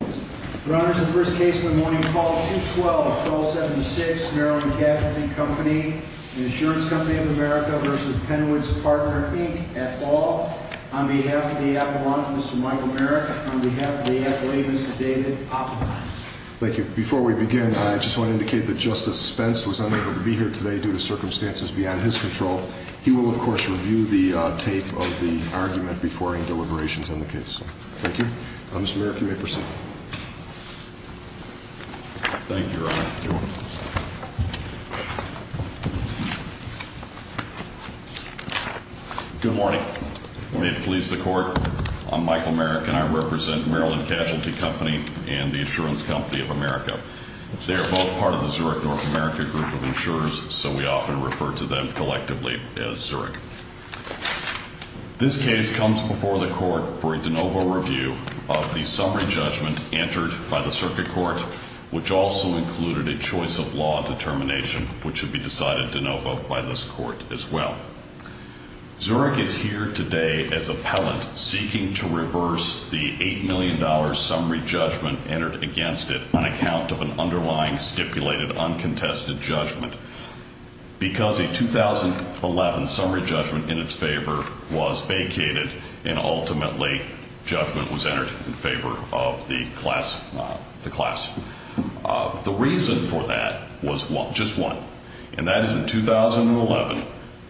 At all. On behalf of the appellant, Mr. Michael Merrick. On behalf of the appellee, Mr. David Oppenheimer. Thank you. Before we begin, I just want to indicate that Justice Spence was unable to be here today due to circumstances beyond his control. He will, of course, review the tape of the argument before any deliberations on the case. Thank you. Mr. Merrick, you may proceed. Thank you, Your Honor. Good morning. Good morning to the police, the court. I'm Michael Merrick, and I represent Maryland Casualty Company and the Insurance Company of America. They are both part of the Zurich, North America group of insurers, so we often refer to them collectively as Zurich. This case comes before the court for a de novo review of the summary judgment entered by the circuit court, which also included a choice of law determination, which should be decided de novo by this court as well. Zurich is here today as appellant seeking to reverse the $8 million summary judgment entered against it on account of an underlying stipulated uncontested judgment. Because a 2011 summary judgment in its favor was vacated, and ultimately, judgment was entered in favor of the class. The reason for that was just one, and that is in 2011,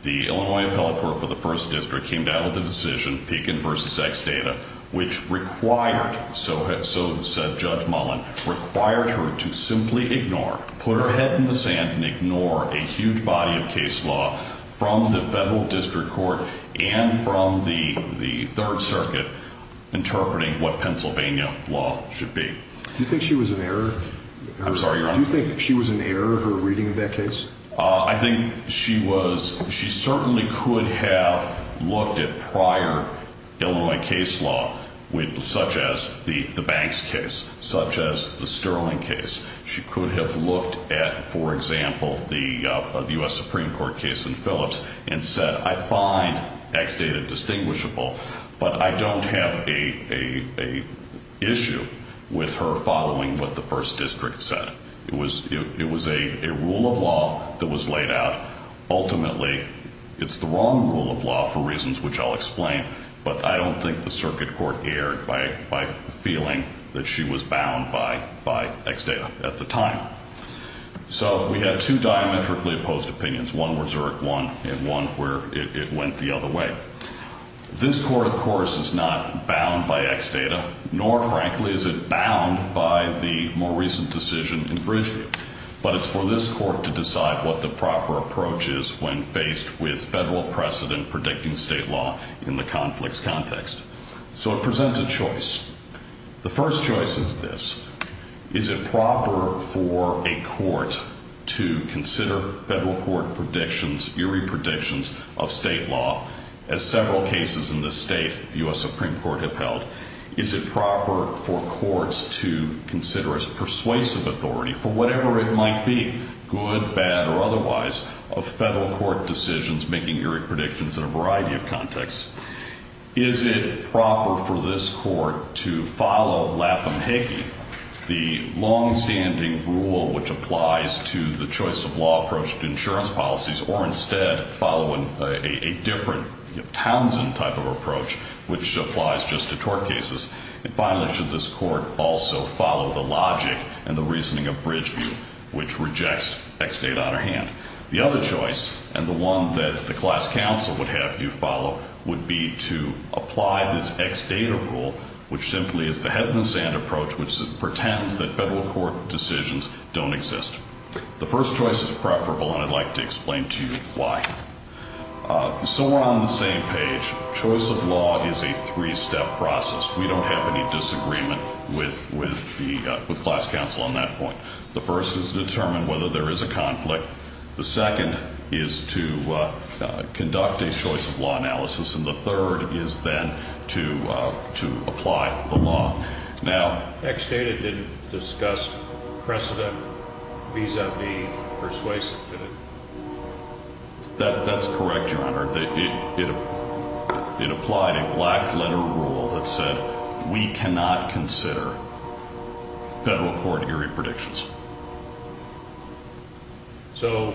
the Illinois appellate court for the first district came down with a decision, Pekin v. Xdata, which required, so said Judge Mullen, required her to simply ignore, put her head in the sand and ignore a huge body of case law from the federal district court and from the third circuit interpreting what Pennsylvania law should be. Do you think she was an error? I'm sorry, Your Honor? Do you think she was an error, her reading of that case? I think she was, she certainly could have looked at prior Illinois case law, such as the Banks case, such as the Sterling case. She could have looked at, for example, the U.S. Supreme Court case in Phillips and said, I find Xdata distinguishable, but I don't have a issue with her following what the first district said. It was a rule of law that was laid out. Ultimately, it's the wrong rule of law for reasons which I'll explain, but I don't think the circuit court erred by feeling that she was bound by, by Xdata at the time. So we had two diametrically opposed opinions. One where Zurich won and one where it went the other way. This court, of course, is not bound by Xdata, nor, frankly, is it bound by the more recent decision in Bridgeview, but it's for this court to decide what the proper approach is when faced with federal precedent predicting state law in the conflicts context. So it presents a choice. The first choice is this. Is it proper for a court to consider federal court predictions, eerie predictions of state law, as several cases in this state the U.S. Supreme Court have held? Is it proper for courts to consider as persuasive authority for whatever it might be, good, bad, or otherwise, of federal court decisions making eerie predictions in a variety of contexts? Is it proper for this court to follow Lapp and Hickey, the longstanding rule which applies to the choice of law approach to insurance policies, or instead following a different Townsend type of approach which applies just to tort cases? And finally, should this court also follow the logic and the reasoning of Bridgeview, which rejects Xdata on our hand? The other choice, and the one that the class counsel would have you follow, would be to apply this Xdata rule, which simply is the head-in-the-sand approach, which pretends that federal court decisions don't exist. The first choice is preferable, and I'd like to explain to you why. So we're on the same page. Choice of law is a three-step process. We don't have any disagreement with class counsel on that point. The first is to determine whether there is a conflict. The second is to conduct a choice of law analysis. And the third is then to apply the law. Now, Xdata didn't discuss precedent vis-a-vis persuasive, did it? That's correct, Your Honor. It applied a black-letter rule that said, we cannot consider federal court-area predictions. So,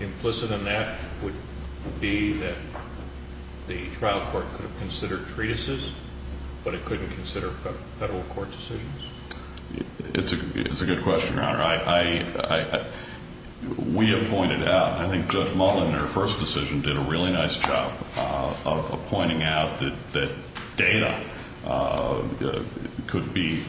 implicit in that would be that the trial court could have considered treatises, but it couldn't consider federal court decisions? It's a good question, Your Honor. I think Judge Mottlin, in her first decision, did a really nice job of pointing out that data could be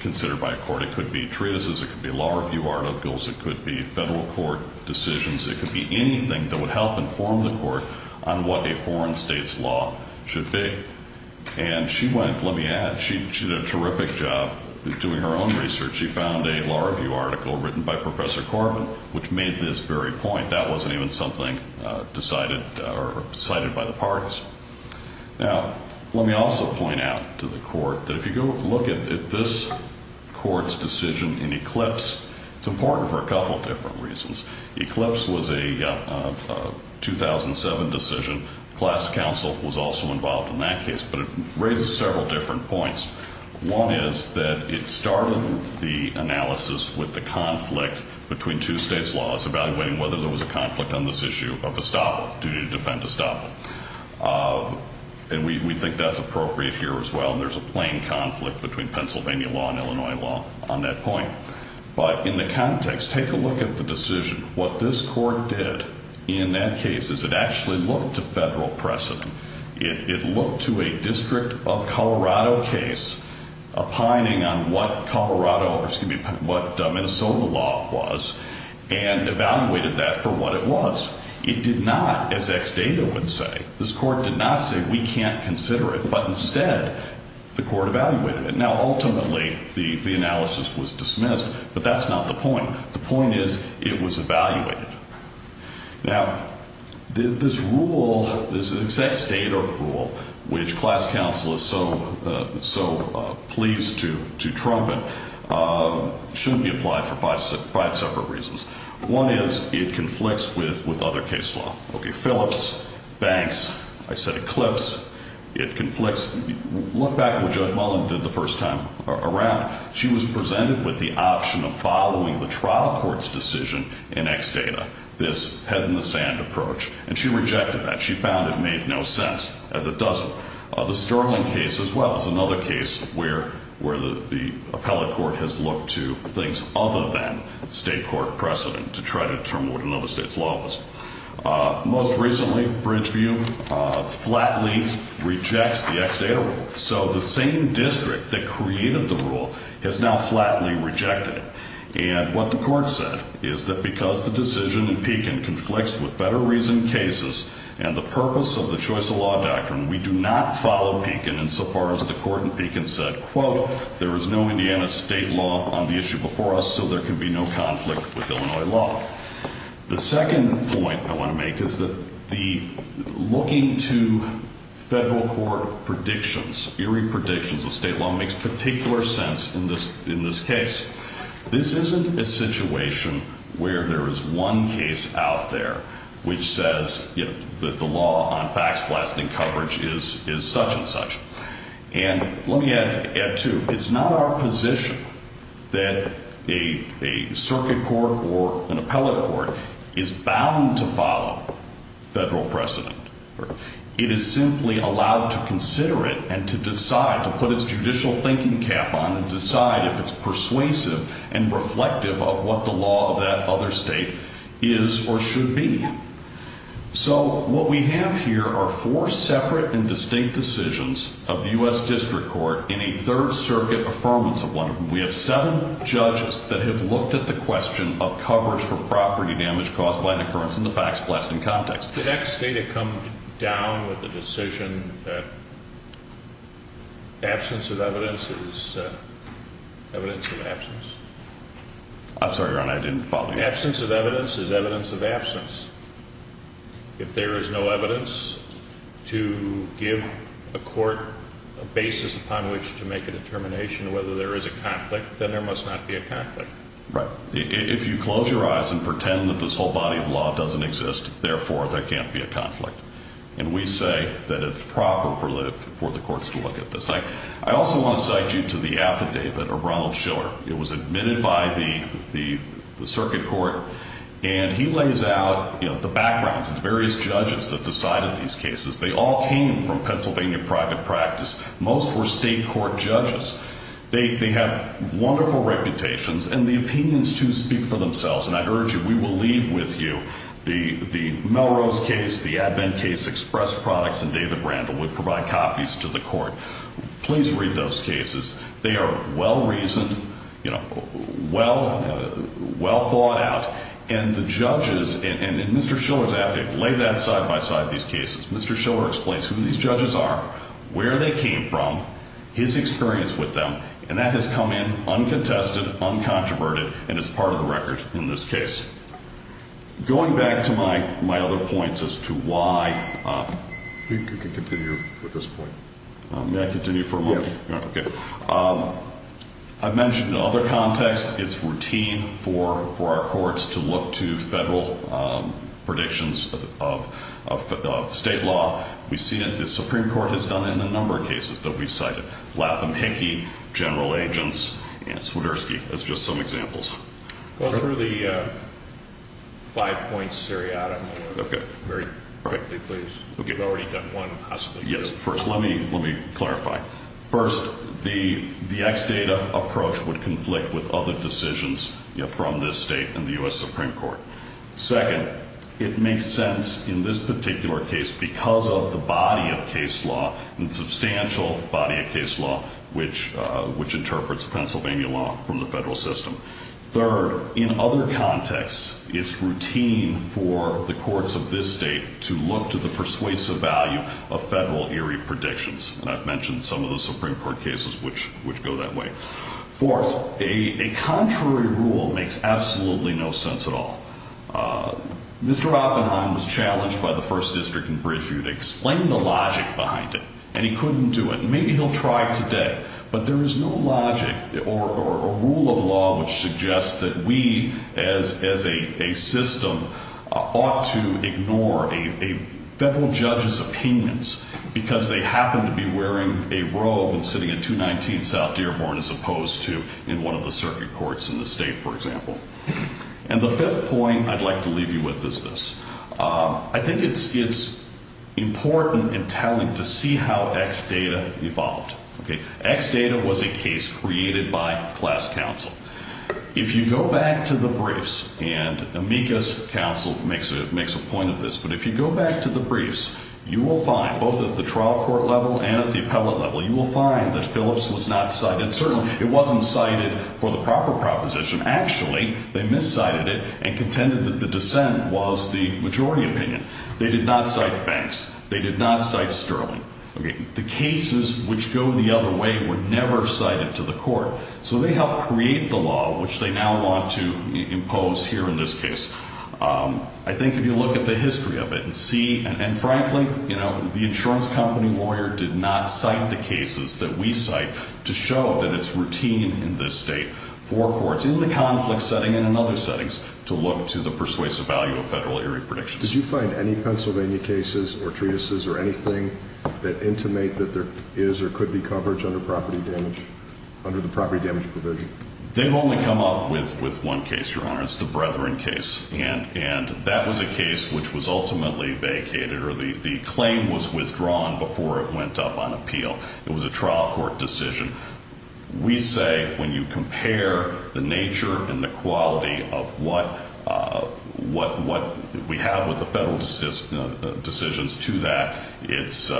considered by a court. It could be treatises. It could be law review articles. It could be federal court decisions. It could be anything that would help inform the court on what a foreign state's law should be. And she went, let me add, she did a terrific job doing her own research. She found a law review article written by Professor Corbin, which made this very point. That wasn't even something decided or cited by the parties. Now, let me also point out to the Court that if you go look at this Court's decision in Eclipse, it's important for a couple of different reasons. Eclipse was a 2007 decision. Class Counsel was also involved in that case. But it raises several different points. One is that it started the analysis with the conflict between two states' laws, evaluating whether there was a conflict on this issue of Estoppa, duty to defend Estoppa. And we think that's appropriate here as well. And there's a plain conflict between Pennsylvania law and Illinois law on that point. But in the context, take a look at the decision. What this Court did in that case is it actually looked to federal precedent. It looked to a District of Colorado case, opining on what Colorado, excuse me, what Minnesota law was, and evaluated that for what it was. It did not, as Ex Dato would say, this Court did not say we can't consider it. But instead, the Court evaluated it. Now, ultimately, the analysis was dismissed. But that's not the point. The point is it was evaluated. Now, this rule, this Ex Dato rule, which Class Counsel is so pleased to trump it, should be applied for five separate reasons. One is it conflicts with other case law. Okay, Phillips, Banks, I said Eclipse, it conflicts. Look back at what Judge Mullen did the first time around. She was presented with the option of following the trial court's decision in Ex Dato, this head in the sand approach. And she rejected that. She found it made no sense, as it doesn't. The Sterling case as well is another case where the appellate court has looked to things other than state court precedent to try to determine what another state's law was. Most recently, Bridgeview flatly rejects the Ex Dato rule. So the same district that created the rule has now flatly rejected it. And what the Court said is that because the decision in Pekin conflicts with better reason cases and the purpose of the choice of law doctrine, we do not follow Pekin insofar as the Court in Pekin said, quote, there is no Indiana state law on the issue before us, so there can be no conflict with Illinois law. The second point I want to make is that the looking to federal court predictions, eerie predictions of state law makes particular sense in this case. This isn't a situation where there is one case out there which says the law on fax blasting coverage is such and such. And let me add, too, it's not our position that a circuit court or an appellate court is bound to follow federal precedent. It is simply allowed to consider it and to decide, to put its judicial thinking cap on and decide if it's persuasive and reflective of what the law of that other state is or should be. So what we have here are four separate and distinct decisions of the U.S. District Court in a third circuit affirmance of one of them. We have seven judges that have looked at the question of coverage for property damage caused by an occurrence in the fax blasting context. The next day to come down with the decision that absence of evidence is evidence of absence. I'm sorry, Your Honor, I didn't follow you. The absence of evidence is evidence of absence. If there is no evidence to give a court a basis upon which to make a determination whether there is a conflict, then there must not be a conflict. Right. If you close your eyes and pretend that this whole body of law doesn't exist, therefore there can't be a conflict. And we say that it's proper for the courts to look at this. I also want to cite you to the affidavit of Ronald Schiller. It was admitted by the circuit court. And he lays out the backgrounds of the various judges that decided these cases. They all came from Pennsylvania private practice. Most were state court judges. They have wonderful reputations and the opinions, too, speak for themselves. And I urge you, we will leave with you the Melrose case, the Advent case, Express Products, and David Randall would provide copies to the court. Please read those cases. They are well-reasoned, well thought out, and the judges, and Mr. Schiller's affidavit, lay that side-by-side these cases. Mr. Schiller explains who these judges are, where they came from, his experience with them, and that has come in uncontested, uncontroverted, and it's part of the record in this case. Going back to my other points as to why, I've mentioned other contexts. It's routine for our courts to look to federal predictions of state law. We see that the Supreme Court has done it in a number of cases that we cited. Lapham, Hickey, General Agents, and Swiderski as just some examples. Go through the five points seriatim. Very quickly, please. We've already done one, possibly. Yes. First, let me clarify. First, the X data approach would conflict with other decisions from this state and the U.S. Supreme Court. Second, it makes sense in this particular case because of the body of case law, and substantial body of case law, which interprets Pennsylvania law from the federal system. Third, in other contexts, it's routine for the courts of this state to look to the persuasive value of federal eerie predictions. I've mentioned some of the Supreme Court cases which go that way. Fourth, a contrary rule makes absolutely no sense at all. Mr. Oppenheim was challenged by the First District in Bridgeview to explain the logic behind it, and he couldn't do it. Maybe he'll try today, but there is no logic or rule of law which suggests that we, as a system, ought to ignore a federal judge's opinions because they happen to be wearing a robe and sitting in 219 South Dearborn as opposed to in one of the circuit courts in the state, for example. And the fifth point I'd like to leave you with is this. I think it's important and telling to see how X data evolved. X data was a case created by class counsel. If you go back to the briefs, and Amicus counsel makes a point of this, but if you go back to the briefs, you will find, both at the trial court level and at the appellate level, you will find that Phillips was not cited. Certainly, it wasn't cited for the proper proposition. Actually, they miscited it and contended that the dissent was the majority opinion. They did not cite Banks. They did not cite Sterling. The cases which go the other way were never cited to the court, so they helped create the law which they now want to impose here in this case. I think if you look at the history of it and see, and frankly, you know, the insurance company lawyer did not cite the cases that we cite to show that it's routine in this state for courts in the conflict setting and in other settings to look to the persuasive value of federal area predictions. Did you find any Pennsylvania cases or treatises or anything that intimate that there is or could be coverage under property damage, under the property damage provision? They've only come up with one case, Your Honor. It's the Bretheren case, and that was a case which was ultimately vacated or the claim was withdrawn before it went up on appeal. It was a trial court decision. We say when you compare the nature and the quality of what we have with the federal decisions to that, it's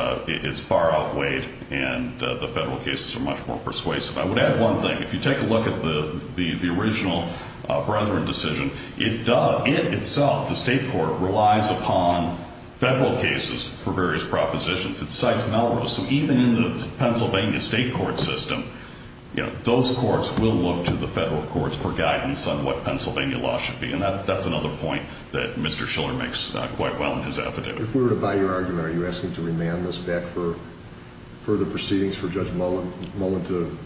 far outweighed, and the federal cases are much more persuasive. I would add one thing. If you take a look at the original Bretheren decision, it does, it itself, the state court, relies upon federal cases for various propositions. It cites Melrose. So even in the Pennsylvania state court system, you know, those courts will look to the federal courts for guidance on what Pennsylvania law should be, and that's another point that Mr. Schiller makes quite well in his affidavit. If we were to buy your argument, are you asking to remand this back for further proceedings for Judge Mullen to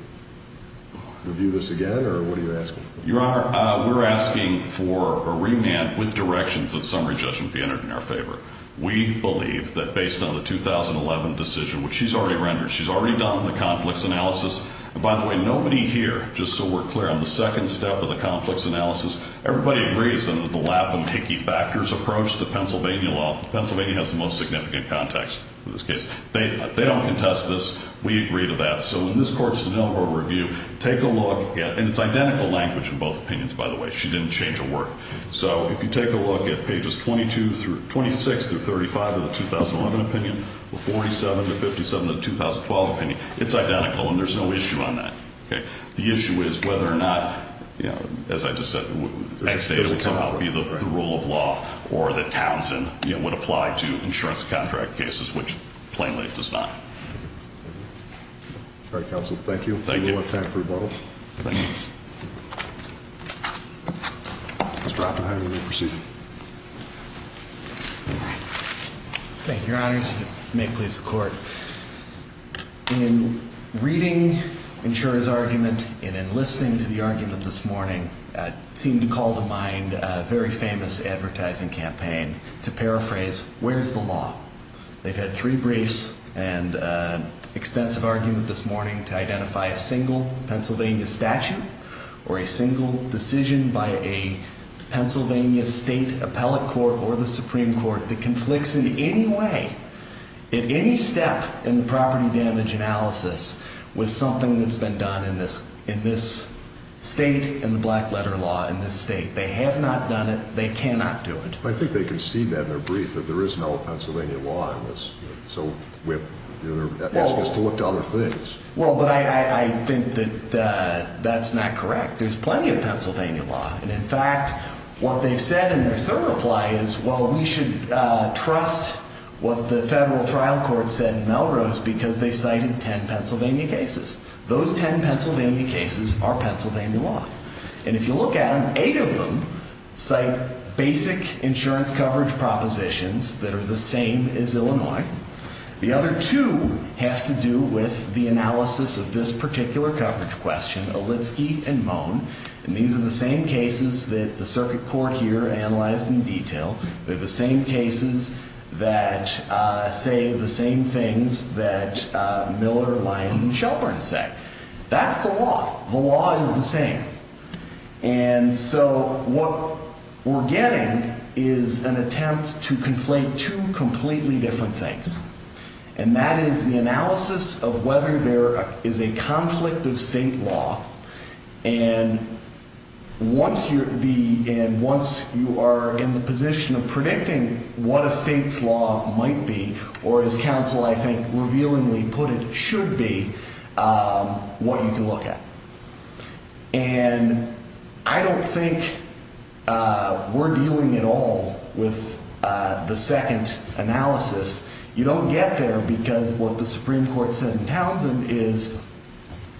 review this again, or what are you asking? Your Honor, we're asking for a remand with directions that summary judgment be entered in our favor. We believe that based on the 2011 decision, which she's already rendered, she's already done the conflicts analysis, and by the way, nobody here, just so we're clear, on the second step of the conflicts analysis, everybody agrees that the lap and picky factors approach to Pennsylvania law, Pennsylvania has the most significant context for this case. They don't contest this. We agree to that. So in this court's de Niro review, take a look, and it's identical language in both opinions, by the way. She didn't change her work. So if you take a look at pages 22 through, 26 through 35 of the 2011 opinion, 47 to 57 of the 2012 opinion, it's identical, and there's no issue on that, okay? The issue is whether or not, you know, as I just said, it would somehow be the rule of law or the contract cases, which, plainly, it does not. All right, counsel, thank you. Thank you. We'll have time for rebuttals. Thank you. Mr. Oppenheimer, your procedure. Thank you, Your Honors. May it please the Court. In reading insurer's argument and in listening to the argument this morning, it seemed to call to mind a very famous advertising campaign to paraphrase where's the law. They've had three briefs and extensive argument this morning to identify a single Pennsylvania statute or a single decision by a Pennsylvania state appellate court or the Supreme Court that conflicts in any way, in any step in the property damage analysis, with something that's been done in this, in this state and the black letter law in this state. They have not done it. They cannot do it. I think they conceded that in their brief, that there is no Pennsylvania law in this. So we have, you know, they're asking us to look to other things. Well, but I, I, I think that that's not correct. There's plenty of Pennsylvania law. And in fact, what they've said in their certify is, well, we should trust what the federal trial court said in Melrose because they cited ten Pennsylvania cases. Those ten Pennsylvania cases are Pennsylvania law. And if you look at them, eight of them cite basic insurance coverage propositions that are the same as Illinois. The other two have to do with the analysis of this particular coverage question, Olitski and Moen. And these are the same cases that the circuit court here analyzed in detail. They're the same cases that say the same things that Miller, Lyons, and Shelburne said. That's the law. The law is the same. And so what we're getting is an attempt to conflate two completely different things. And that is the analysis of whether there is a conflict of state law. And once you're in the position of predicting what a state's law might be, or as counsel, I think, revealingly put it, should be, what you can look at. And I don't think we're dealing at all with the second analysis. You don't get there because what the Supreme Court said in Townsend is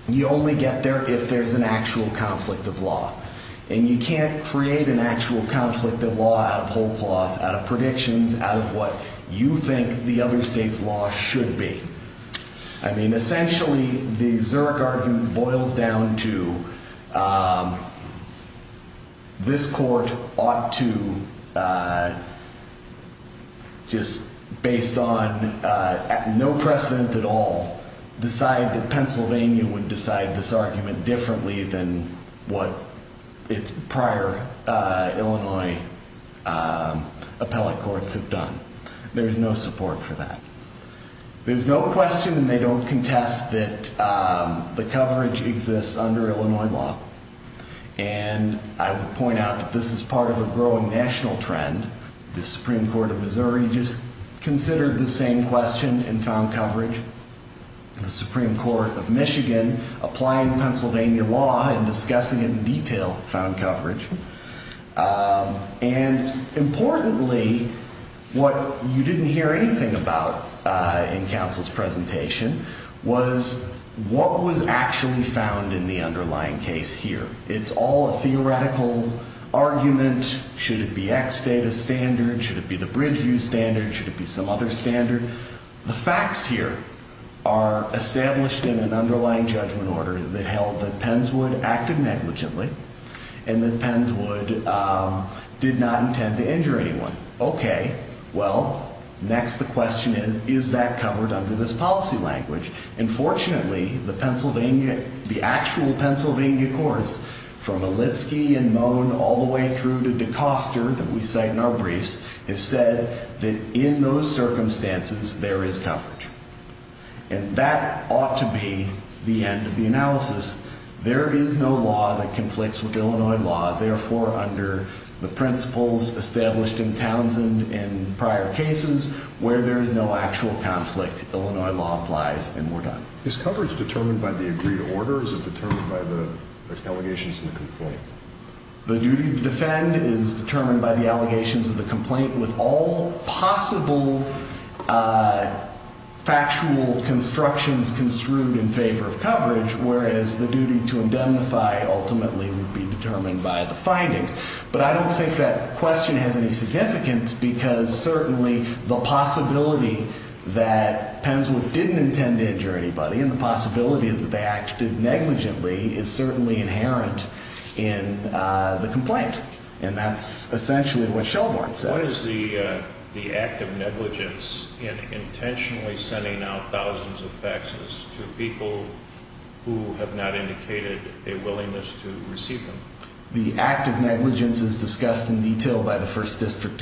you only get there if there's an actual conflict of law. And you can't create an actual conflict of law out of whole cloth, out of predictions, out of what you think the other state's law should be. I mean, essentially, the Zurich argument boils down to this court ought to just, based on no precedent at all, decide that Pennsylvania would decide this argument differently than what its prior Illinois appellate courts have done. There's no support for that. There's no question, and they don't contest, that the coverage exists under Illinois law. And I would point out that this is part of a growing national trend. The Supreme Court of Missouri just considered the same question and found coverage. The Supreme Court of Michigan applying Pennsylvania law and discussing it in detail found coverage. And importantly, what you didn't hear anything about in counsel's presentation was what was actually found in the underlying case here. It's all a theoretical argument. Should it be X data standard? Should it be the Bridgeview standard? Should it be some other standard? The facts here are established in an underlying judgment order that held that Penswood acted negligently and that Penswood did not intend to injure anyone. Okay. Well, next the question is, is that covered under this Pennsylvania courts? From Olitski and Moen all the way through to DeCoster that we cite in our briefs have said that in those circumstances there is coverage. And that ought to be the end of the analysis. There is no law that conflicts with Illinois law. Therefore, under the principles established in Townsend in prior cases where there is no actual conflict, Illinois law applies and we're done. Is coverage determined by the agreed order? Is it determined by the allegations in the complaint? The duty to defend is determined by the allegations of the complaint with all possible factual constructions construed in favor of coverage, whereas the duty to indemnify ultimately would be determined by the findings. But I don't think that question has any significance because certainly the possibility that Penswood didn't intend to injure anybody and the possibility that they acted negligently is certainly inherent in the complaint. And that's essentially what Shelbourne says. What is the act of negligence in intentionally sending out thousands of faxes to people who have not indicated a willingness to receive them? The act of negligence is discussed in detail by the First Amendment.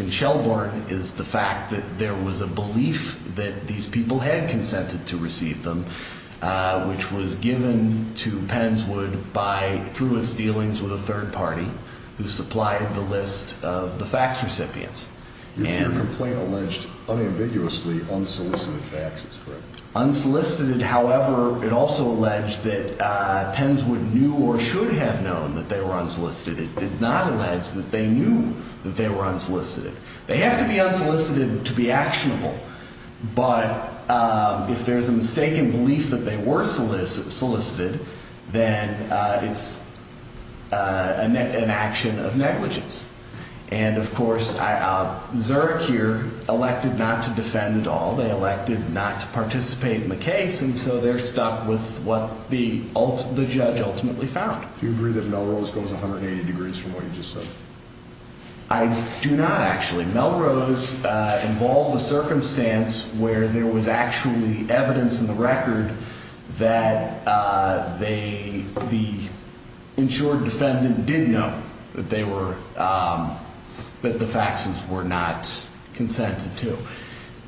There was a belief that these people had consented to receive them, which was given to Penswood through its dealings with a third party who supplied the list of the fax recipients. Your complaint alleged unambiguously unsolicited faxes, correct? Unsolicited, however, it also alleged that Penswood knew or should have known that they were unsolicited. It did not allege that they knew that they were unsolicited. They have to be unsolicited to be actionable, but if there's a mistaken belief that they were solicited, then it's an action of negligence. And of course, Zurich here elected not to defend at all. They elected not to participate in the case, and so they're stuck with what the judge ultimately found. Do you agree that Melrose goes 180 degrees from what you just said? I do not, actually. Melrose involved a circumstance where there was actually evidence in the record that the insured defendant did know that the faxes were not consented to.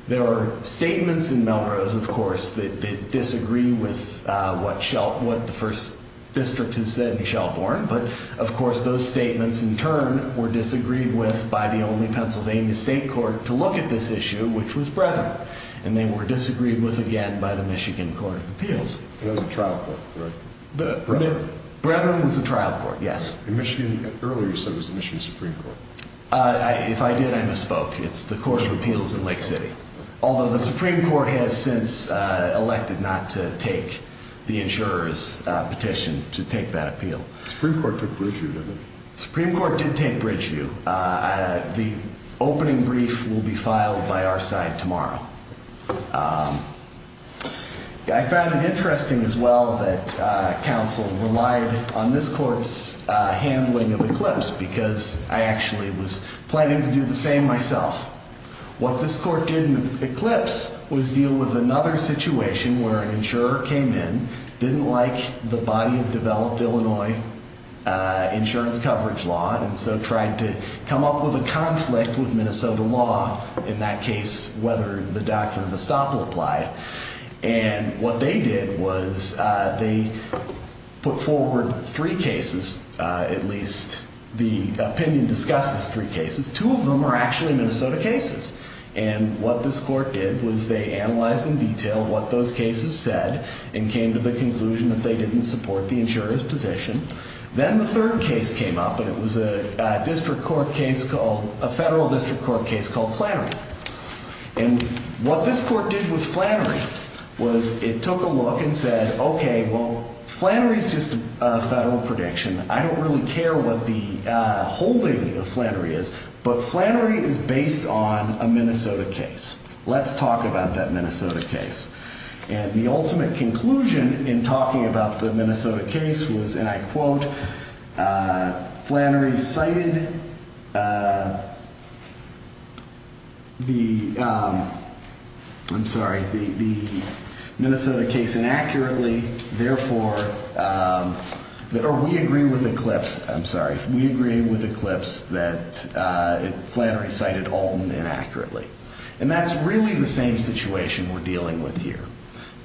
There are statements in Melrose, of course, that disagree with what the first district has said in Shelbourne, but of course those statements in turn were disagreed with by the only Pennsylvania state court to look at this issue, which was Brethren. And they were disagreed with again by the Michigan Court of Appeals. It was the trial court, right? Brethren. Brethren was the trial court, yes. Earlier you said it was the Michigan Supreme Court. If I did, I misspoke. It's the Court of Appeals in Lake City. Although the Supreme Court has since elected not to take the insurer's petition to take that appeal. The Supreme Court took Bridgeview, didn't it? The Supreme Court did take Bridgeview. The opening brief will be filed by our side tomorrow. I found it interesting as well that counsel relied on this court's handling of Eclipse because I actually was planning to do the same myself. What this court did with Eclipse was deal with another situation where an insurer came in, didn't like the body of developed Illinois insurance coverage law, and so tried to come up with a conflict with Minnesota law in that case whether the Doctrine of Estoppel applied. And what they did was they put forward three cases, at least the opinion discusses three cases. Two of them are actually Minnesota cases. And what this court did was they analyzed in detail what those cases said and came to the conclusion that they didn't support the insurer's position. Then the third case came up and it was a district court case called, a federal district court case called Flannery. And what this court did with Flannery was it took a look and said, okay, well Flannery is just a federal prediction. I don't really care what the holding of Flannery is, but Flannery is based on a Minnesota case. Let's talk about that Minnesota case. And the ultimate conclusion in talking about the Minnesota case was, and I quote, Flannery cited the, I'm sorry, or we agree with Eclipse, I'm sorry, we agree with Eclipse that Flannery cited Alton inaccurately. And that's really the same situation we're dealing with here.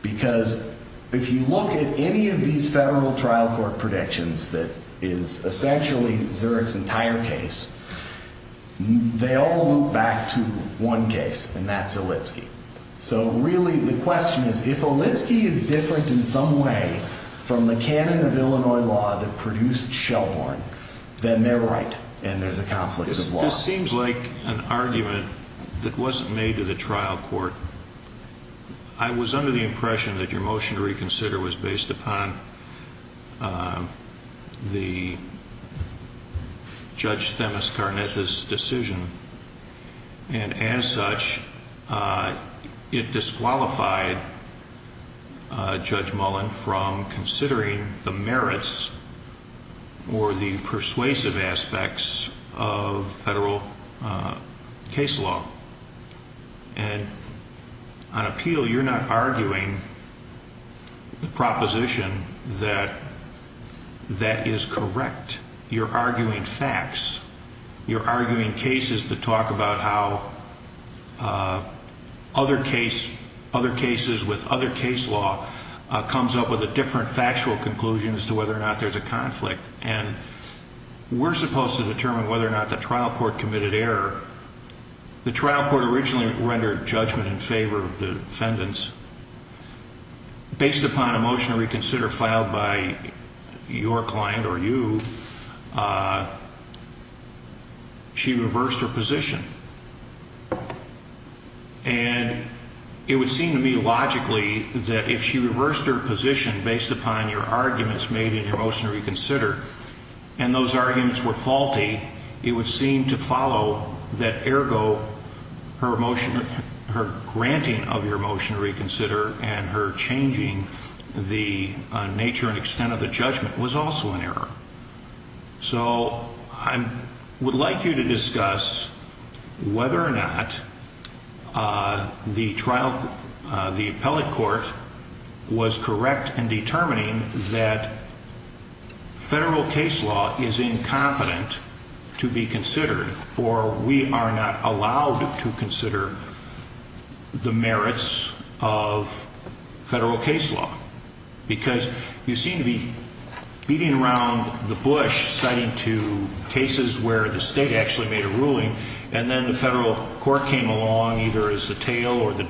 Because if you look at any of these federal trial court predictions that is essentially Zurich's entire case, they all loop back to one case, and that's Olitski. So really the question is, if Olitski is different in some way from the canon of Illinois law that produced Shelhorn, then they're right and there's a conflict of law. This seems like an argument that wasn't made to the trial court. I was under the impression that your motion to reconsider was based upon the Judge Themis Karnes' decision. And as such, it disqualified Judge Mullen from considering the merits or the persuasive aspects of federal case law. And on appeal, you're not arguing the proposition that that is correct. You're arguing facts. You're arguing cases that talk about how other cases with other case law comes up with a different factual conclusion as to whether or not there's a conflict. And we're supposed to determine whether or not the trial court committed error. The trial court originally rendered judgment in favor of the defendants. Based upon a motion to reconsider filed by your client or you, she reversed her position. And it would seem to me logically that if she reversed her position based upon your arguments made in your motion to reconsider and those arguments were faulty, it would seem to follow that ergo her granting of your motion to reconsider and her changing the nature and extent of the judgment was also an error. So I would like you to discuss whether or not the federal case law is incompetent to be considered or we are not allowed to consider the merits of federal case law. Because you seem to be beating around the bush citing to cases where the state actually made a ruling and then the federal court came along either as the tail or the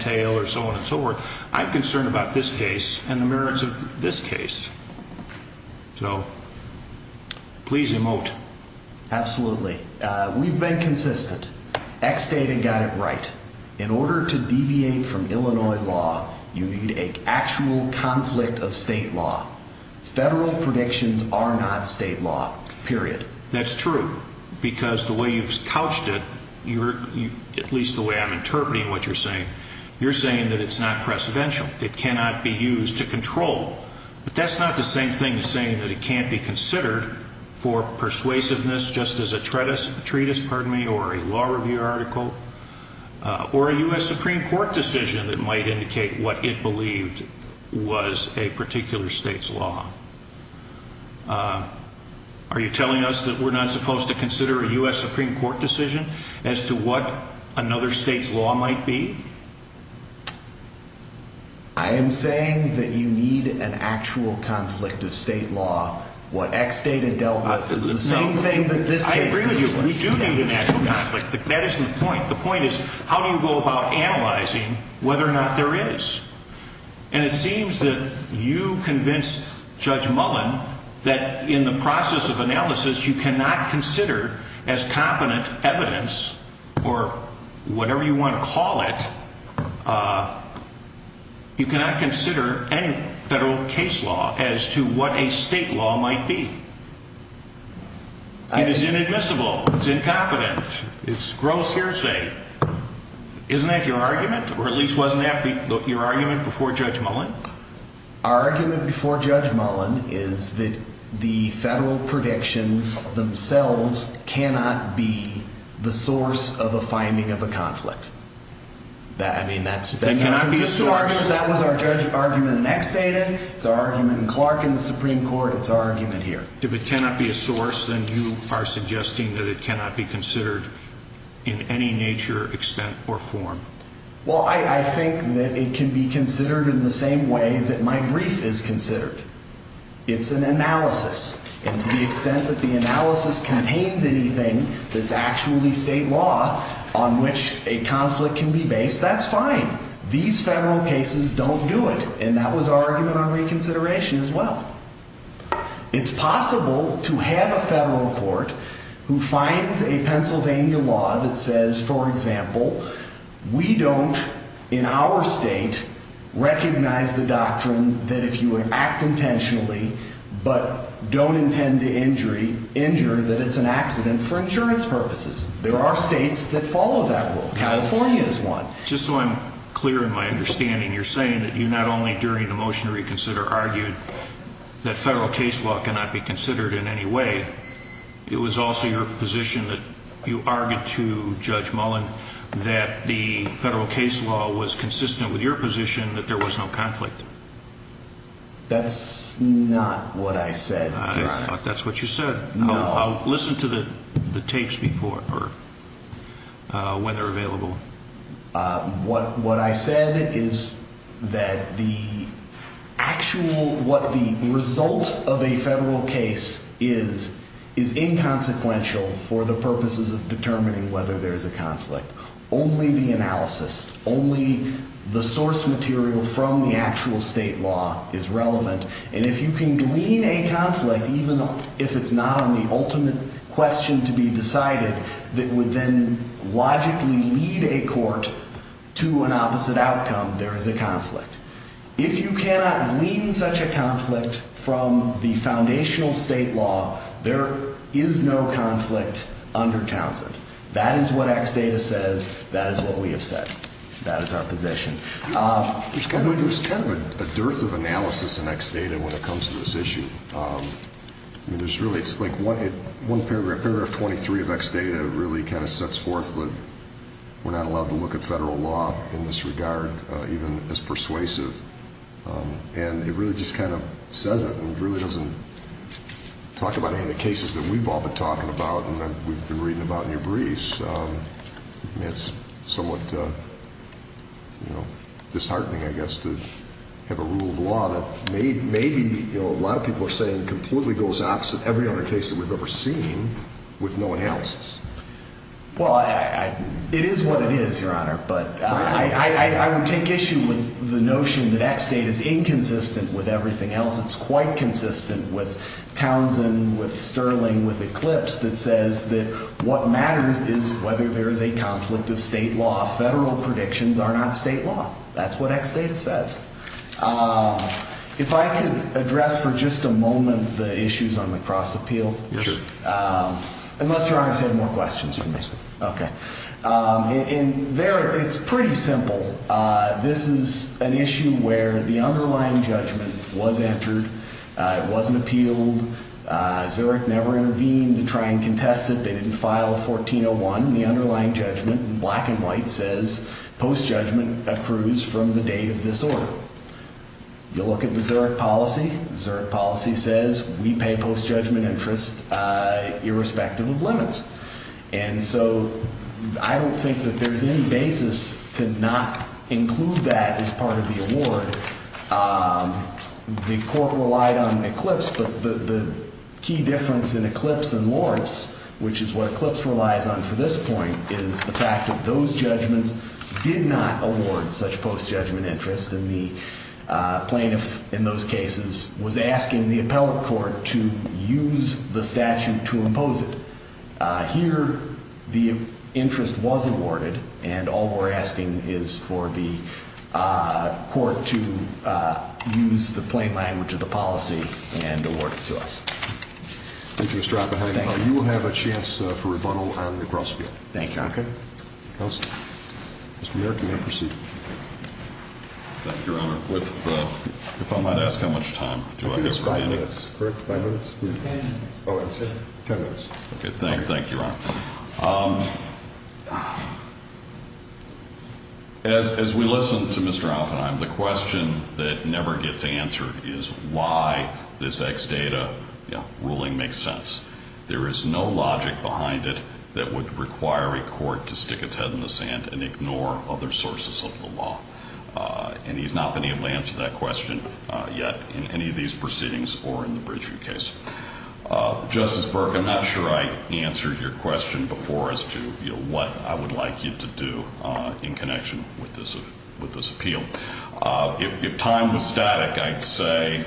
tail. So please emote. Absolutely. We've been consistent. X data got it right. In order to deviate from Illinois law, you need an actual conflict of state law. Federal predictions are not state law. Period. That's true. Because the way you've couched it, you're at least the way I'm saying that it can't be considered for persuasiveness just as a treatise or a law review article or a U.S. Supreme Court decision that might indicate what it believed was a particular state's law. Are you telling us that we're not supposed to consider a U.S. Supreme Court decision as to what another state's law might be? I am saying that you need an actual conflict of state law. What X data dealt with is the same thing that this case did. I agree with you. We do need an actual conflict. That isn't the point. The point is how do you go about analyzing whether or not there is? And it seems that you convince Judge Mullen that in the process of analysis, you cannot consider as competent evidence or whatever you want to call it. You cannot consider any federal case law as to what a state law might be. It is inadmissible. It's incompetent. It's gross hearsay. Isn't that your argument? Or at least wasn't that your argument before Judge Mullen? Our argument before Judge Mullen is that the federal predictions themselves cannot be the source of a finding of a conflict. That was our judge argument in X data. It's our argument in Clark and the Supreme Court. It's our argument here. If it cannot be a source, then you are suggesting that it cannot be considered in any nature, extent, or form? Well, I think that it can be considered in the same way that my brief is considered. It's an analysis. And to the extent that the analysis contains anything that's actually state law on which a conflict can be based, that's fine. These federal cases don't do it. And that was our argument on reconsideration as well. It's possible to have a federal court who finds a Pennsylvania law that says, for example, we don't, in our state, recognize the doctrine that if you act intentionally but don't intend to injure, that it's an accident for insurance purposes. There are states that follow that rule. California is one. Just so I'm clear in my understanding, you're saying that you not only during the motion to reconsider argued that federal case law cannot be considered in any way, it was also your position that you argued to Judge Mullen that the federal case law was consistent with your position that there was no conflict. That's not what I said, Your Honor. I thought that's what you said. I'll listen to the tapes when they're available. What I said is that the actual, what the result of a federal case is, is inconsequential for the purposes of determining whether there is a conflict. Only the analysis, only the source material from the actual state law is relevant. And if you can glean a conflict, even if it's not on the ultimate question to be decided, that would then logically lead a court to an opposite outcome, there is a conflict. If you cannot glean such a conflict from the foundational state law, there is no conflict under Townsend. That is what X data says, that is what we have said. That is our position. There's kind of a dearth of analysis in X data when it comes to this issue. One paragraph, paragraph 23 of X data really kind of sets forth that we're not allowed to look at federal law in this regard, even as persuasive. And it really just kind of says it doesn't talk about any of the cases that we've all been talking about and that we've been reading about in your briefs. It's somewhat disheartening, I guess, to have a rule of law that maybe a lot of people are saying completely goes opposite every other case that we've ever seen with no analysis. Well, it is what it is, Your Honor. But I would take issue with the notion that X data is inconsistent with everything else. It's quite consistent with Townsend, with Sterling, with Eclipse that says that what matters is whether there is a conflict of state law. Federal predictions are not state law. That's what X data says. If I could address for just a moment the issues on the cross appeal. Unless Your Honor has had more questions. It's pretty simple. This is an issue where the underlying judgment was entered. It wasn't appealed. Zurich never intervened to try and contest it. They didn't file a 1401. The underlying judgment in black and white says post judgment accrues from the date of this order. You look at the Zurich policy. Zurich policy says we pay post judgment interest irrespective of limits. And so I don't think that there's any basis to not include that as part of the award. The court relied on Eclipse, but the key difference in Eclipse and Lawrence, which is what Eclipse relies on for this point, is the fact that those judgments did not award such post judgment interest. And the plaintiff in those cases was asking the appellate court to use the statute to impose it. Here the interest was awarded and all we're asking is for the court to use the plain language of the policy and award it to us. Thank you, Mr. Oppenheimer. You will have a chance for rebuttal on the cross field. Thank you, Your Honor. Mr. Merrick, you may proceed. Thank you, Your Honor. If I might ask how much time do I have remaining? I think it's five minutes. Ten minutes. Okay, thank you, Your Honor. As we listen to Mr. Oppenheimer, the question that never gets answered is why this ex data ruling makes sense. There is no logic behind it that would require a court to stick its head in the sand and ignore other sources of the law. And he's not been able to answer that question yet in any of these proceedings or in the Bridgeview case. Justice Burke, I'm not sure I answered your question before as to what I would like you to do in connection with this appeal. If time was static, I'd say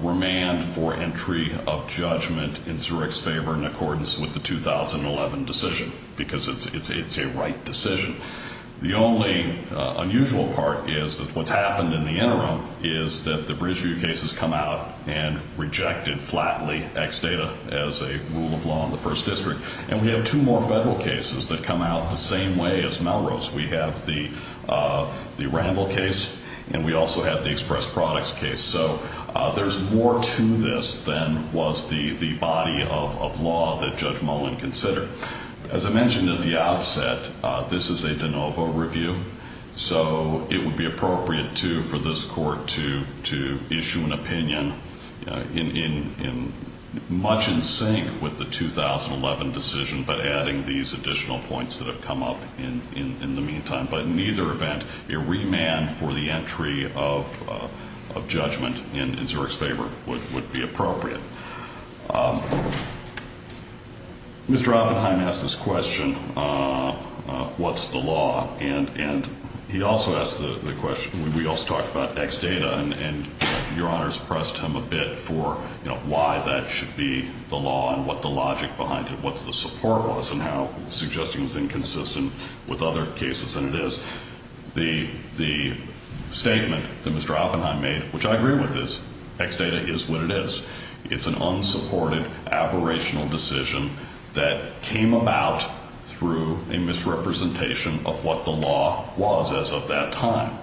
remand for entry of judgment in Zurich's favor in accordance with the 2011 decision because it's a right decision. The only unusual part is that what's happened in the interim is that the Bridgeview case has come out and rejected flatly ex data as a rule of law in the First District. And we have two more federal cases that come out the same way as Melrose. We have the Ramble case and we also have the Express Products case. So there's more to this than was the de novo review. So it would be appropriate too for this court to issue an opinion in much in sync with the 2011 decision, but adding these additional points that have come up in the meantime. But in either event, a remand for the entry of judgment in Zurich's favor would be appropriate. Mr. Oppenheim asked this question, what's the law? And he also asked the question, we also talked about ex data, and Your Honors pressed him a bit for why that should be the law and what the logic behind it, what the support was and how suggesting was inconsistent with other cases than it is. The statement that Mr. Oppenheim made, which I agree with, is ex data is what it is. It's an unsupported, aberrational decision that came about through a misrepresentation of what the law was as of that time.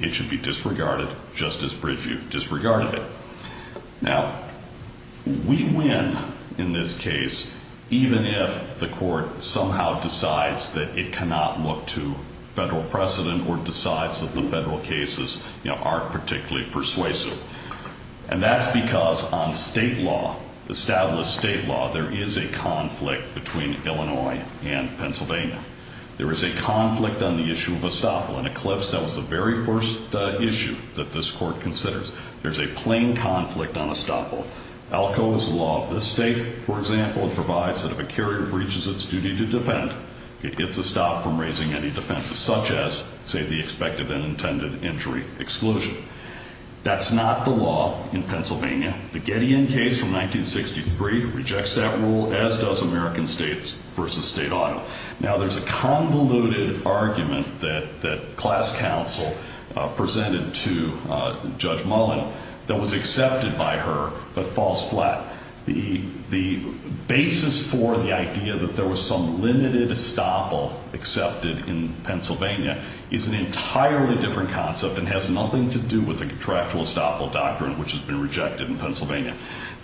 It should be disregarded just as Bridgeview disregarded it. Now, we win in this case even if the court somehow decides that it cannot look to federal precedent or decides that the federal cases aren't particularly persuasive. And that's because on state law, established state law, there is a conflict between Illinois and Pennsylvania. There is a conflict on the issue of estoppel. In Eclipse, that was the very first issue that this court provides that if a carrier breaches its duty to defend, it gets a stop from raising any defenses, such as, say, the expected and intended injury exclusion. That's not the law in Pennsylvania. The Gideon case from 1963 rejects that rule, as does American States v. State Auto. Now, there's a convoluted argument that class counsel presented to Judge Mullen that was accepted by her, but falls flat. The basis for the idea that there was some limited estoppel accepted in Pennsylvania is an entirely different concept and has nothing to do with the contractual estoppel doctrine, which has been rejected in Pennsylvania.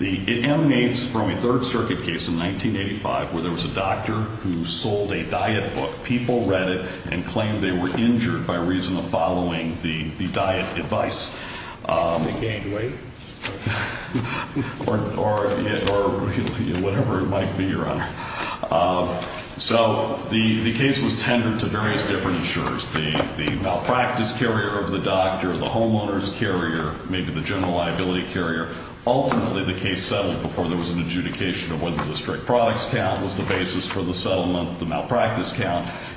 It emanates from a Third Circuit case in 1985 where there was a doctor who sold a diet book. People read it and claimed they were injured by reason of following the diet advice. They gained weight? Or whatever it might be, Your Honor. So the case was tendered to various different insurers. The malpractice carrier of the doctor, the homeowner's carrier, maybe the general liability carrier. Ultimately, the case settled before there was an adjudication of whether the strict products count was the basis for that.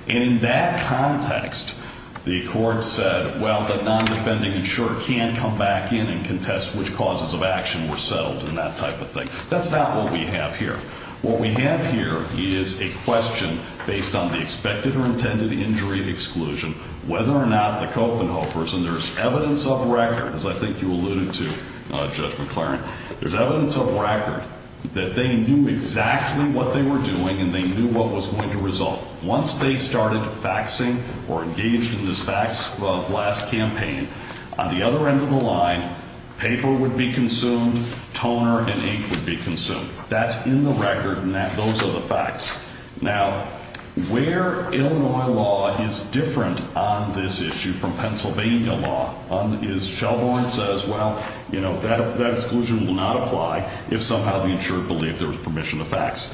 And in that context, the court said, well, the non-defending insurer can't come back in and contest which causes of action were settled and that type of thing. That's not what we have here. What we have here is a question based on the expected or intended injury exclusion, whether or not the Copenhagen person, there's evidence of record, as I think you alluded to, Judge McLaren. There's evidence of record that they knew exactly what they were doing and they knew what was going to result. Once they started faxing or engaged in this fax blast campaign, on the other end of the line, paper would be consumed, toner and ink would be consumed. That's in the record and those are the facts. Now, where Illinois law is different on this issue from Pennsylvania law is Shelborn says, well, you know, that exclusion will not apply if somehow the insured believed there was permission to fax.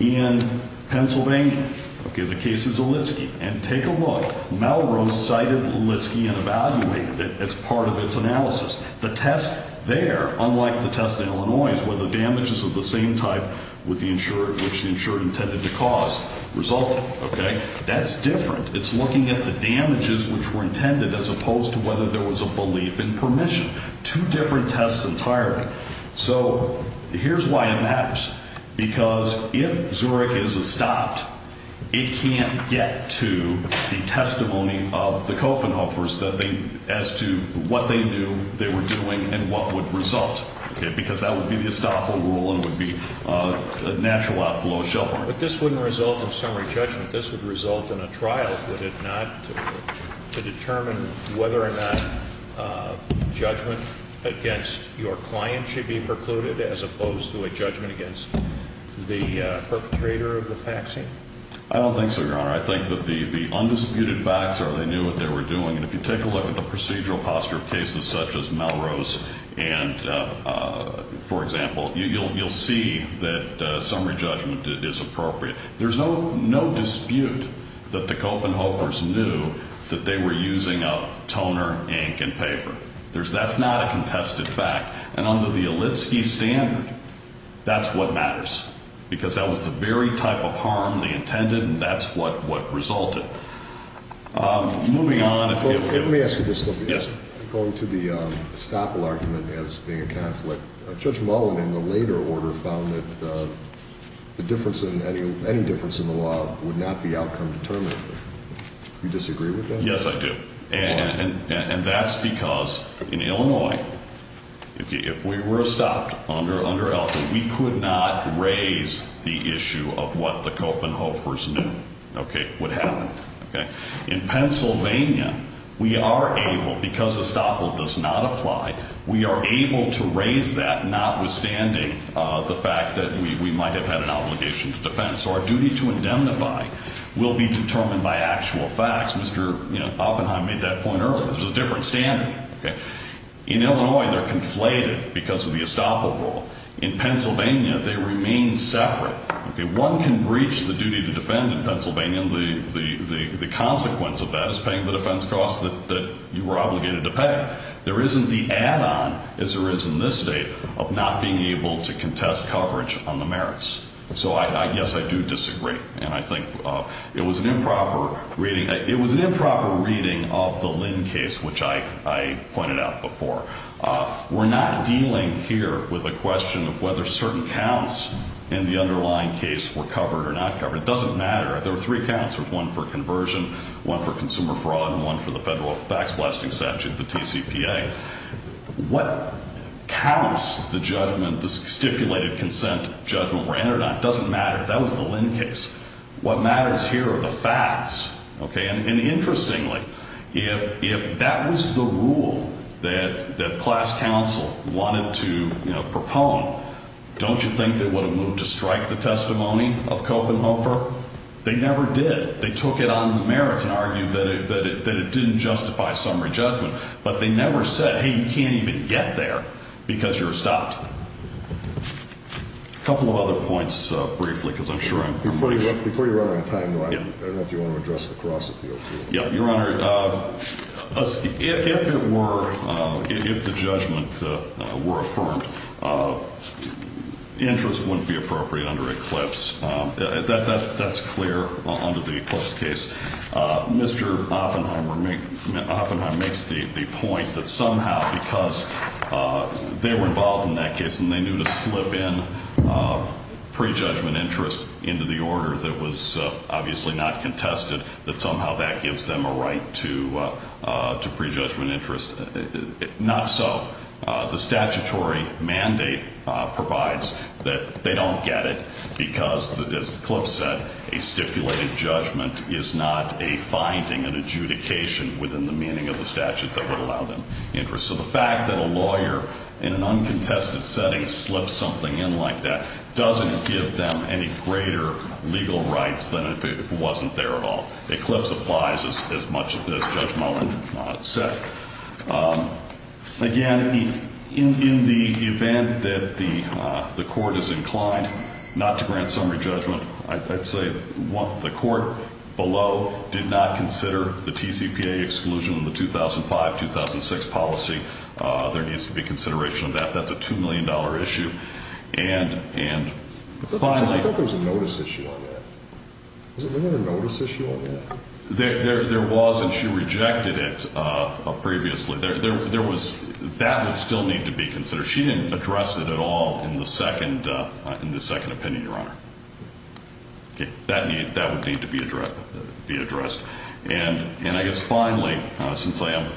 In Pennsylvania, okay, the case is Olitski. And take a look. Melrose cited Olitski and evaluated it as part of its analysis. The test there, unlike the test in Illinois, is whether damages of the same type with the insured, which the insured intended to cause, resulted. Okay? That's different. It's looking at the damages which were intended as opposed to whether there was a belief in permission. Two different tests entirely. So here's why it matters. Because if Zurich is estopped, it can't get to the testimony of the Kofenhofers as to what they knew they were doing and what would result. Because that would be the estoppel rule and it would be a natural outflow of Shelborn. But this wouldn't result in summary judgment. This would result in a trial. Would it not to determine whether or not judgment against your client should be precluded as opposed to a judgment against the perpetrator of the faxing? I don't think so, Your Honor. I think that the undisputed facts are they knew what they were doing. And if you take a look at the procedural posture of cases such as Melrose and, for example, you'll see that summary judgment is appropriate. There's no dispute that the Kofenhofers knew that they were using a toner, ink, and paper. That's not a contested fact. And under the Olitski standard, that's what matters. Because that was the very type of harm they intended and that's what resulted. Moving on. Let me ask you this, Lippy. Yes. Going to the estoppel argument as being a conflict, Judge Mullen in the later order found that the difference in any difference in the law would not be outcome determined. Do you disagree with that? Yes, I do. And that's because in Illinois, if we were estopped under ELFA, we could not raise the issue of what the Kofenhofers knew would happen. In Pennsylvania, we are able, because estoppel does not apply, we are able to raise that notwithstanding the fact that we might have had an obligation to defend. So our duty to indemnify will be determined by actual facts. Mr. Oppenheim made that point earlier. There's a different standard. In Illinois, they're conflated because of the estoppel rule. In Pennsylvania, they remain separate. One can breach the duty to defend in Pennsylvania, and the consequence of that is paying the defense costs that you were obligated to pay. There isn't the add-on, as there is in this state, of not being able to contest coverage on the merits. So, yes, I do disagree. And I think it was an improper reading of the Lynn case, which I pointed out before. We're not dealing here with a question of whether certain counts in the underlying case were covered or not covered. It doesn't matter. There were three counts. There was one for conversion, one for consumer fraud, and one for the Federal Fax Blasting Statute, the TCPA. What counts the judgment, the stipulated consent judgment were entered on doesn't matter. That was the Lynn case. What matters here are the facts, okay? And interestingly, if that was the rule that class counsel wanted to pass, they never did. They took it on the merits and argued that it didn't justify summary judgment. But they never said, hey, you can't even get there because you're estopped. A couple of other points, briefly, because I'm sure I'm... Your Honor, if it were, if the judgment were affirmed, interest wouldn't be appropriate under Eclipse. That's clear under the Eclipse case. Mr. Oppenheimer makes the point that somehow because they were involved in that case and they knew to slip in prejudgment interest into the order that was obviously not contested, that somehow that gives them a right to prejudgment interest. Not so. The statutory mandate provides that they don't get it because, as Eclipse said, a stipulated judgment is not a finding, an adjudication within the meaning of the statute that would allow them interest. So the fact that a lawyer in an uncontested setting slips something in like that doesn't give them any greater legal rights than if it wasn't there at all. Eclipse applies as much as Judge Mullen said. Again, in the event that the Court is inclined not to grant summary judgment, I'd say the Court below did not consider the TCPA exclusion of the 2005-2006 policy. There needs to be consideration of that. That's a $2 million issue. I thought there was a notice issue on that. Wasn't there a notice issue on that? There was, and she rejected it previously. That would still need to be considered. She didn't address it at all in the second opinion, Your Honor. That would need to be addressed. And I guess finally, since I am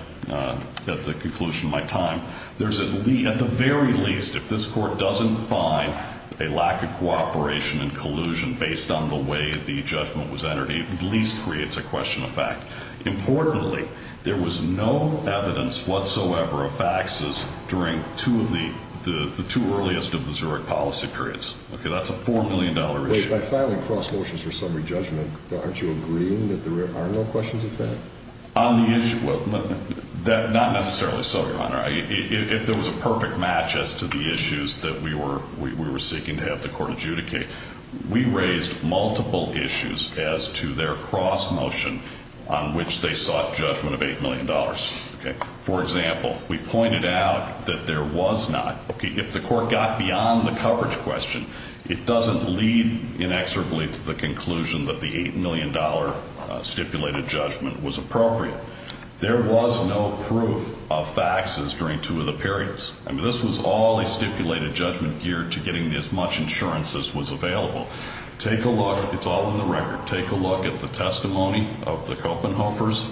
at the conclusion of my time, at the very least, if this Court doesn't find a lack of cooperation and collusion based on the way the judgment was entered, it at least creates a question of fact. Importantly, there was no evidence whatsoever of faxes during the two earliest of the Zurich policy periods. That's a $4 million issue. By filing cross motions for summary judgment, aren't you agreeing that there are no questions of fact? Not necessarily so, Your Honor. If there was a perfect match as to the issues that we were seeking to have the Court adjudicate, we raised multiple issues as to their cross motion on which they sought judgment of $8 million. For example, we pointed out that there was not. If the Court got beyond the coverage question, it doesn't lead inexorably to the conclusion that the $8 million stipulated judgment was appropriate. There was no proof of faxes during two of the periods. I mean, this was all a stipulated judgment geared to getting as much insurance as was available. Take a look. It's all in the record. Take a look at the testimony of the Kopenhofers.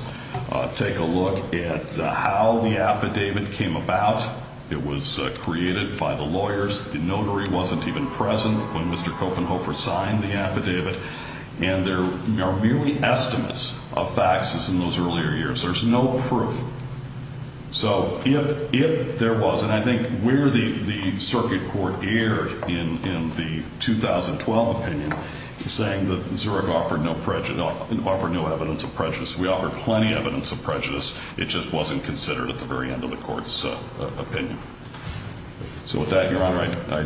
Take a look at how the affidavit came about. It was created by the lawyers. The notary wasn't even present when Mr. Kopenhofer signed the affidavit. And there are merely estimates of faxes in those earlier years. There's no proof. So if there was, and I think where the Circuit Court erred in the 2012 opinion, saying that Zurich offered no evidence of prejudice, we offered plenty of evidence of prejudice. It just wasn't considered at the very end of the Court's opinion. So with that, Your Honor, I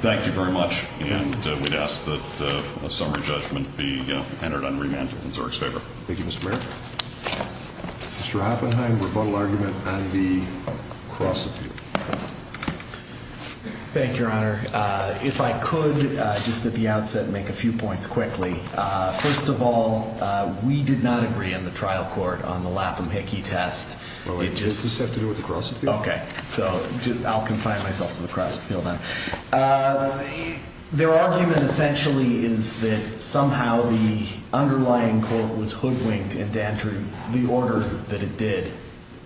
thank you very much. And we'd ask that Mr. Haffenheim, rebuttal argument, and the cross appeal. Thank you, Your Honor. If I could, just at the outset, make a few points quickly. First of all, we did not agree on the trial court on the Lapham-Hickey test. Does this have to do with the cross appeal? Okay. So I'll confine myself to the cross appeal then. Their argument essentially is that somehow the underlying court was hoodwinked into entering the order that it did.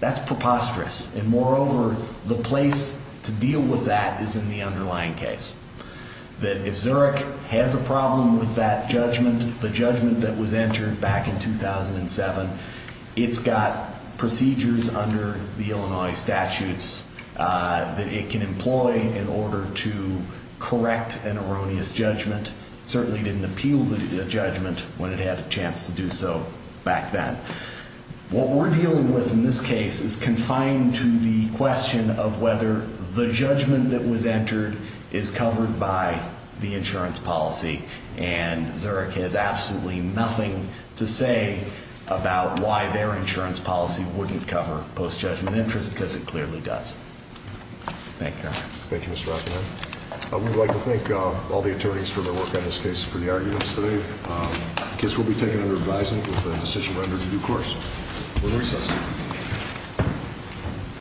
That's preposterous. And moreover, the place to deal with that is in the underlying case. That if Zurich has a problem with that judgment, the judgment that was entered back in 2007, it's got procedures under the Illinois statutes that it can employ in order to correct an erroneous judgment. It certainly didn't appeal the judgment when it had a chance to do so back then. What we're dealing with in this case is confined to the question of whether the judgment that was entered is covered by the insurance policy. And Zurich has absolutely nothing to say about why their insurance policy wouldn't cover post-judgment interest because it clearly does. Thank you, Your Honor. Thank you, Mr. Rockenheim. We'd like to thank all the attorneys for their work on this case for the arguments today. The case will be taken under advisement with the decision rendered in due course. We'll recess.